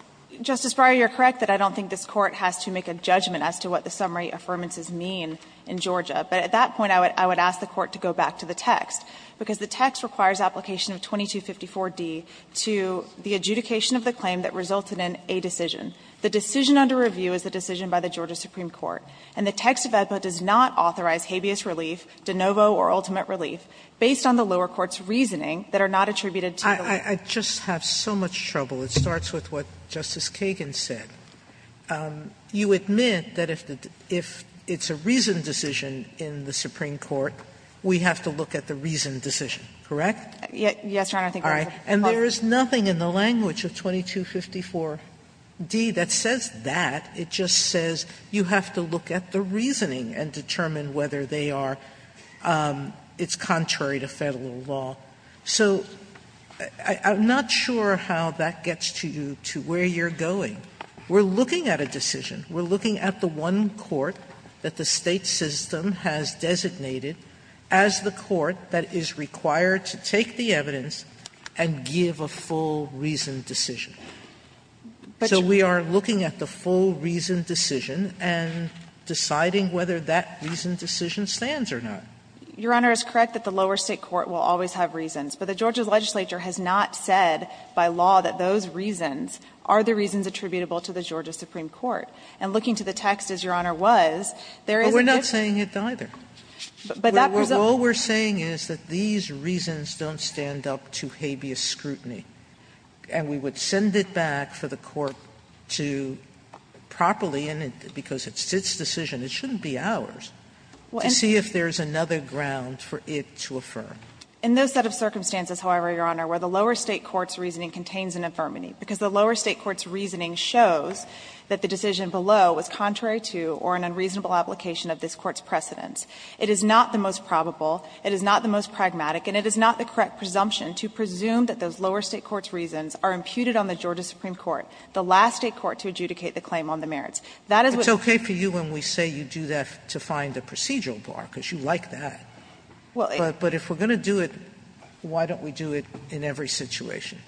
Justice Breyer, you are correct that I don't think this Court has to make a judgment as to what the summary affirmances mean in Georgia. But at that point, I would ask the Court to go back to the text, because the text requires application of 2254d to the adjudication of the claim that resulted in a decision. The decision under review is the decision by the Georgia Supreme Court, and the text of AEDPA does not authorize habeas relief, de novo or ultimate relief, based on the lower court's reasoning that are not attributed to the lower court. Sotomayor, I just have so much trouble. It starts with what Justice Kagan said. You admit that if it's a reasoned decision in the Supreme Court, we have to look at the reasoned decision, correct? Yes, Your Honor. I think that's what the Court said. And there is nothing in the language of 2254d that says that. It just says you have to look at the reasoning and determine whether they are — it's contrary to Federal law. So I'm not sure how that gets to you, to where you're going. We're looking at a decision. We're looking at the one court that the State system has designated as the court that is required to take the evidence and give a full reasoned decision. So we are looking at the full reasoned decision and deciding whether that reasoned decision stands or not. Your Honor, it's correct that the lower State court will always have reasons, but the Georgia legislature has not said by law that those reasons are the reasons attributable to the Georgia Supreme Court. And looking to the text, as Your Honor was, there is a difference. Sotomayor, we're not saying it either. All we're saying is that these reasons don't stand up to habeas scrutiny. And we would send it back for the court to properly, and because it's its decision, it shouldn't be ours, to see if there's another ground for it to affirm. In those set of circumstances, however, Your Honor, where the lower State court's reasoning contains an infirmity, because the lower State court's reasoning shows that the decision below was contrary to or an unreasonable application of this court's precedents, it is not the most probable, it is not the most pragmatic, and it is not the correct presumption to presume that those lower State court's reasons are imputed on the Georgia Supreme Court, the last State court to adjudicate the claim on the merits. That is what's going to happen. Sotomayor, it's okay for you when we say you do that to find a procedural bar, because you like that. But if we're going to do it, why don't we do it in every situation,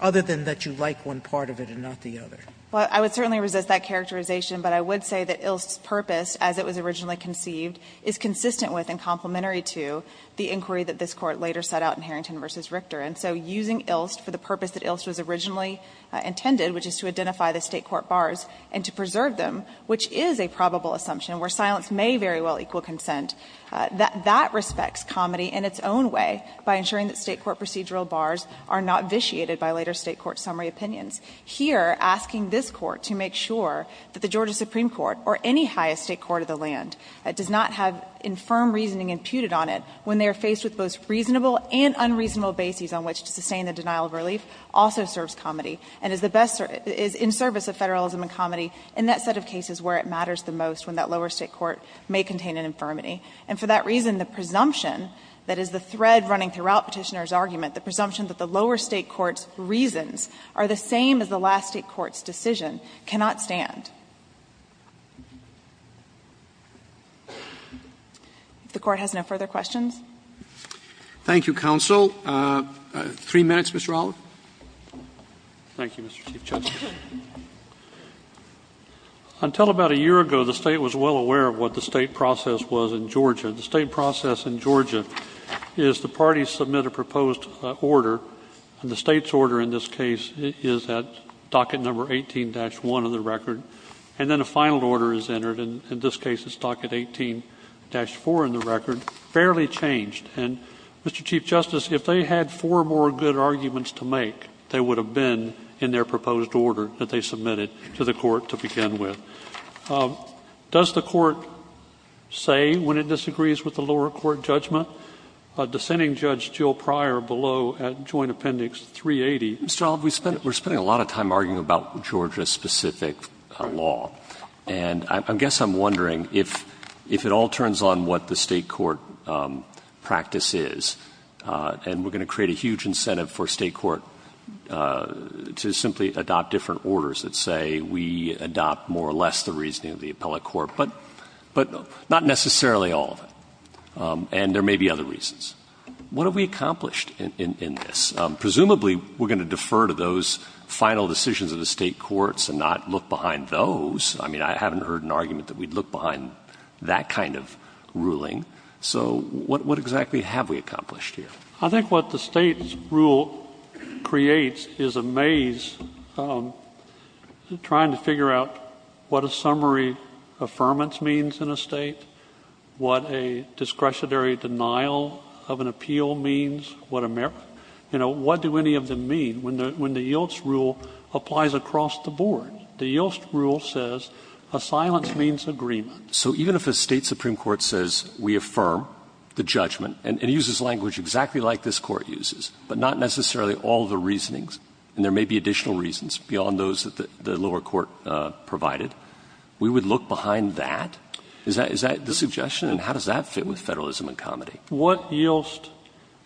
other than that you like one part of it and not the other? Well, I would certainly resist that characterization, but I would say that Ilst's purpose, as it was originally conceived, is consistent with and complementary to the inquiry that this Court later set out in Harrington v. Richter. And so using Ilst for the purpose that Ilst was originally intended, which is to identify the State court bars and to preserve them, which is a probable assumption where silence may very well equal consent, that that respects comedy in its own way by ensuring that State court procedural bars are not vitiated by later State court summary opinions. Here, asking this Court to make sure that the Georgia Supreme Court or any highest State court of the land does not have infirm reasoning imputed on it when they are faced with both reasonable and unreasonable bases on which to sustain the denial of relief also serves comedy and is the best or is in service of Federalism and comedy in that set of cases where it matters the most when that lower State court may contain an infirmity. And for that reason, the presumption that is the thread running throughout Petitioner's argument, the presumption that the lower State court's reasons are the same as the last State court's decision, cannot stand. Roberts, Thank you, counsel. Three minutes, Mr. Allen. Thank you, Mr. Chief Justice. Until about a year ago, the State was well aware of what the State process was in Georgia. The State process in Georgia is the parties submit a proposed order, and the State's order in this case is at docket number 18-1 in the record, and then a final order is entered, and in this case it's docket 18-4 in the record, barely changed. And, Mr. Chief Justice, if they had four more good arguments to make, they would have been in their proposed order that they submitted to the court to begin with. Does the court say when it disagrees with the lower court judgment? A dissenting judge, Jill Pryor, below at joint appendix 380. Mr. Olive, we're spending a lot of time arguing about Georgia's specific law, and I guess I'm wondering if it all turns on what the State court practice is, and we're going to create a huge incentive for State court to simply adopt different orders that say we adopt more or less the reasoning of the appellate court, but not necessarily all of it, and there may be other reasons. What have we accomplished in this? Presumably, we're going to defer to those final decisions of the State courts and not look behind those. I mean, I haven't heard an argument that we'd look behind that kind of ruling. So what exactly have we accomplished here? I think what the State's rule creates is a maze trying to figure out what a summary affirmance means in a State, what a discretionary denial of an appeal means, what do any of them mean when the YILTS rule applies across the board? The YILTS rule says a silence means agreement. So even if a State supreme court says we affirm the judgment, and it uses language exactly like this court uses, but not necessarily all the reasonings, and there may be additional reasons beyond those that the lower court provided, we would look behind that? Is that the suggestion, and how does that fit with Federalism and Comedy? What YILTS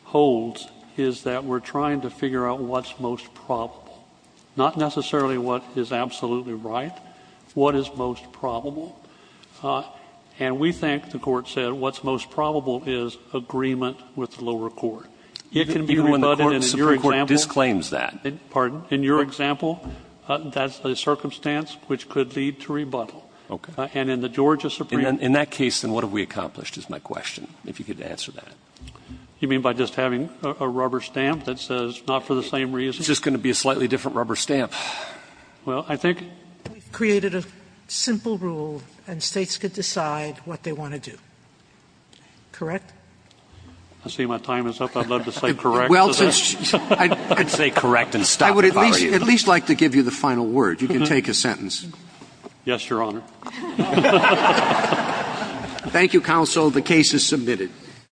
holds is that we're trying to figure out what's most probable, not necessarily what is absolutely right, what is most probable. And we think, the Court said, what's most probable is agreement with the lower court. It can be rebutted in your example. Even when the Supreme Court disclaims that? Pardon? In your example, that's a circumstance which could lead to rebuttal. OK. And in the Georgia Supreme Court. In that case, then, what have we accomplished, is my question, if you could answer that. You mean by just having a rubber stamp that says not for the same reason? Well, it's just going to be a slightly different rubber stamp. Well, I think we've created a simple rule, and States could decide what they want to do. Correct? I see my time is up. I'd love to say correct. I'd say correct and stop if I were you. I would at least like to give you the final word. You can take a sentence. Yes, Your Honor. Thank you, counsel. The case is submitted.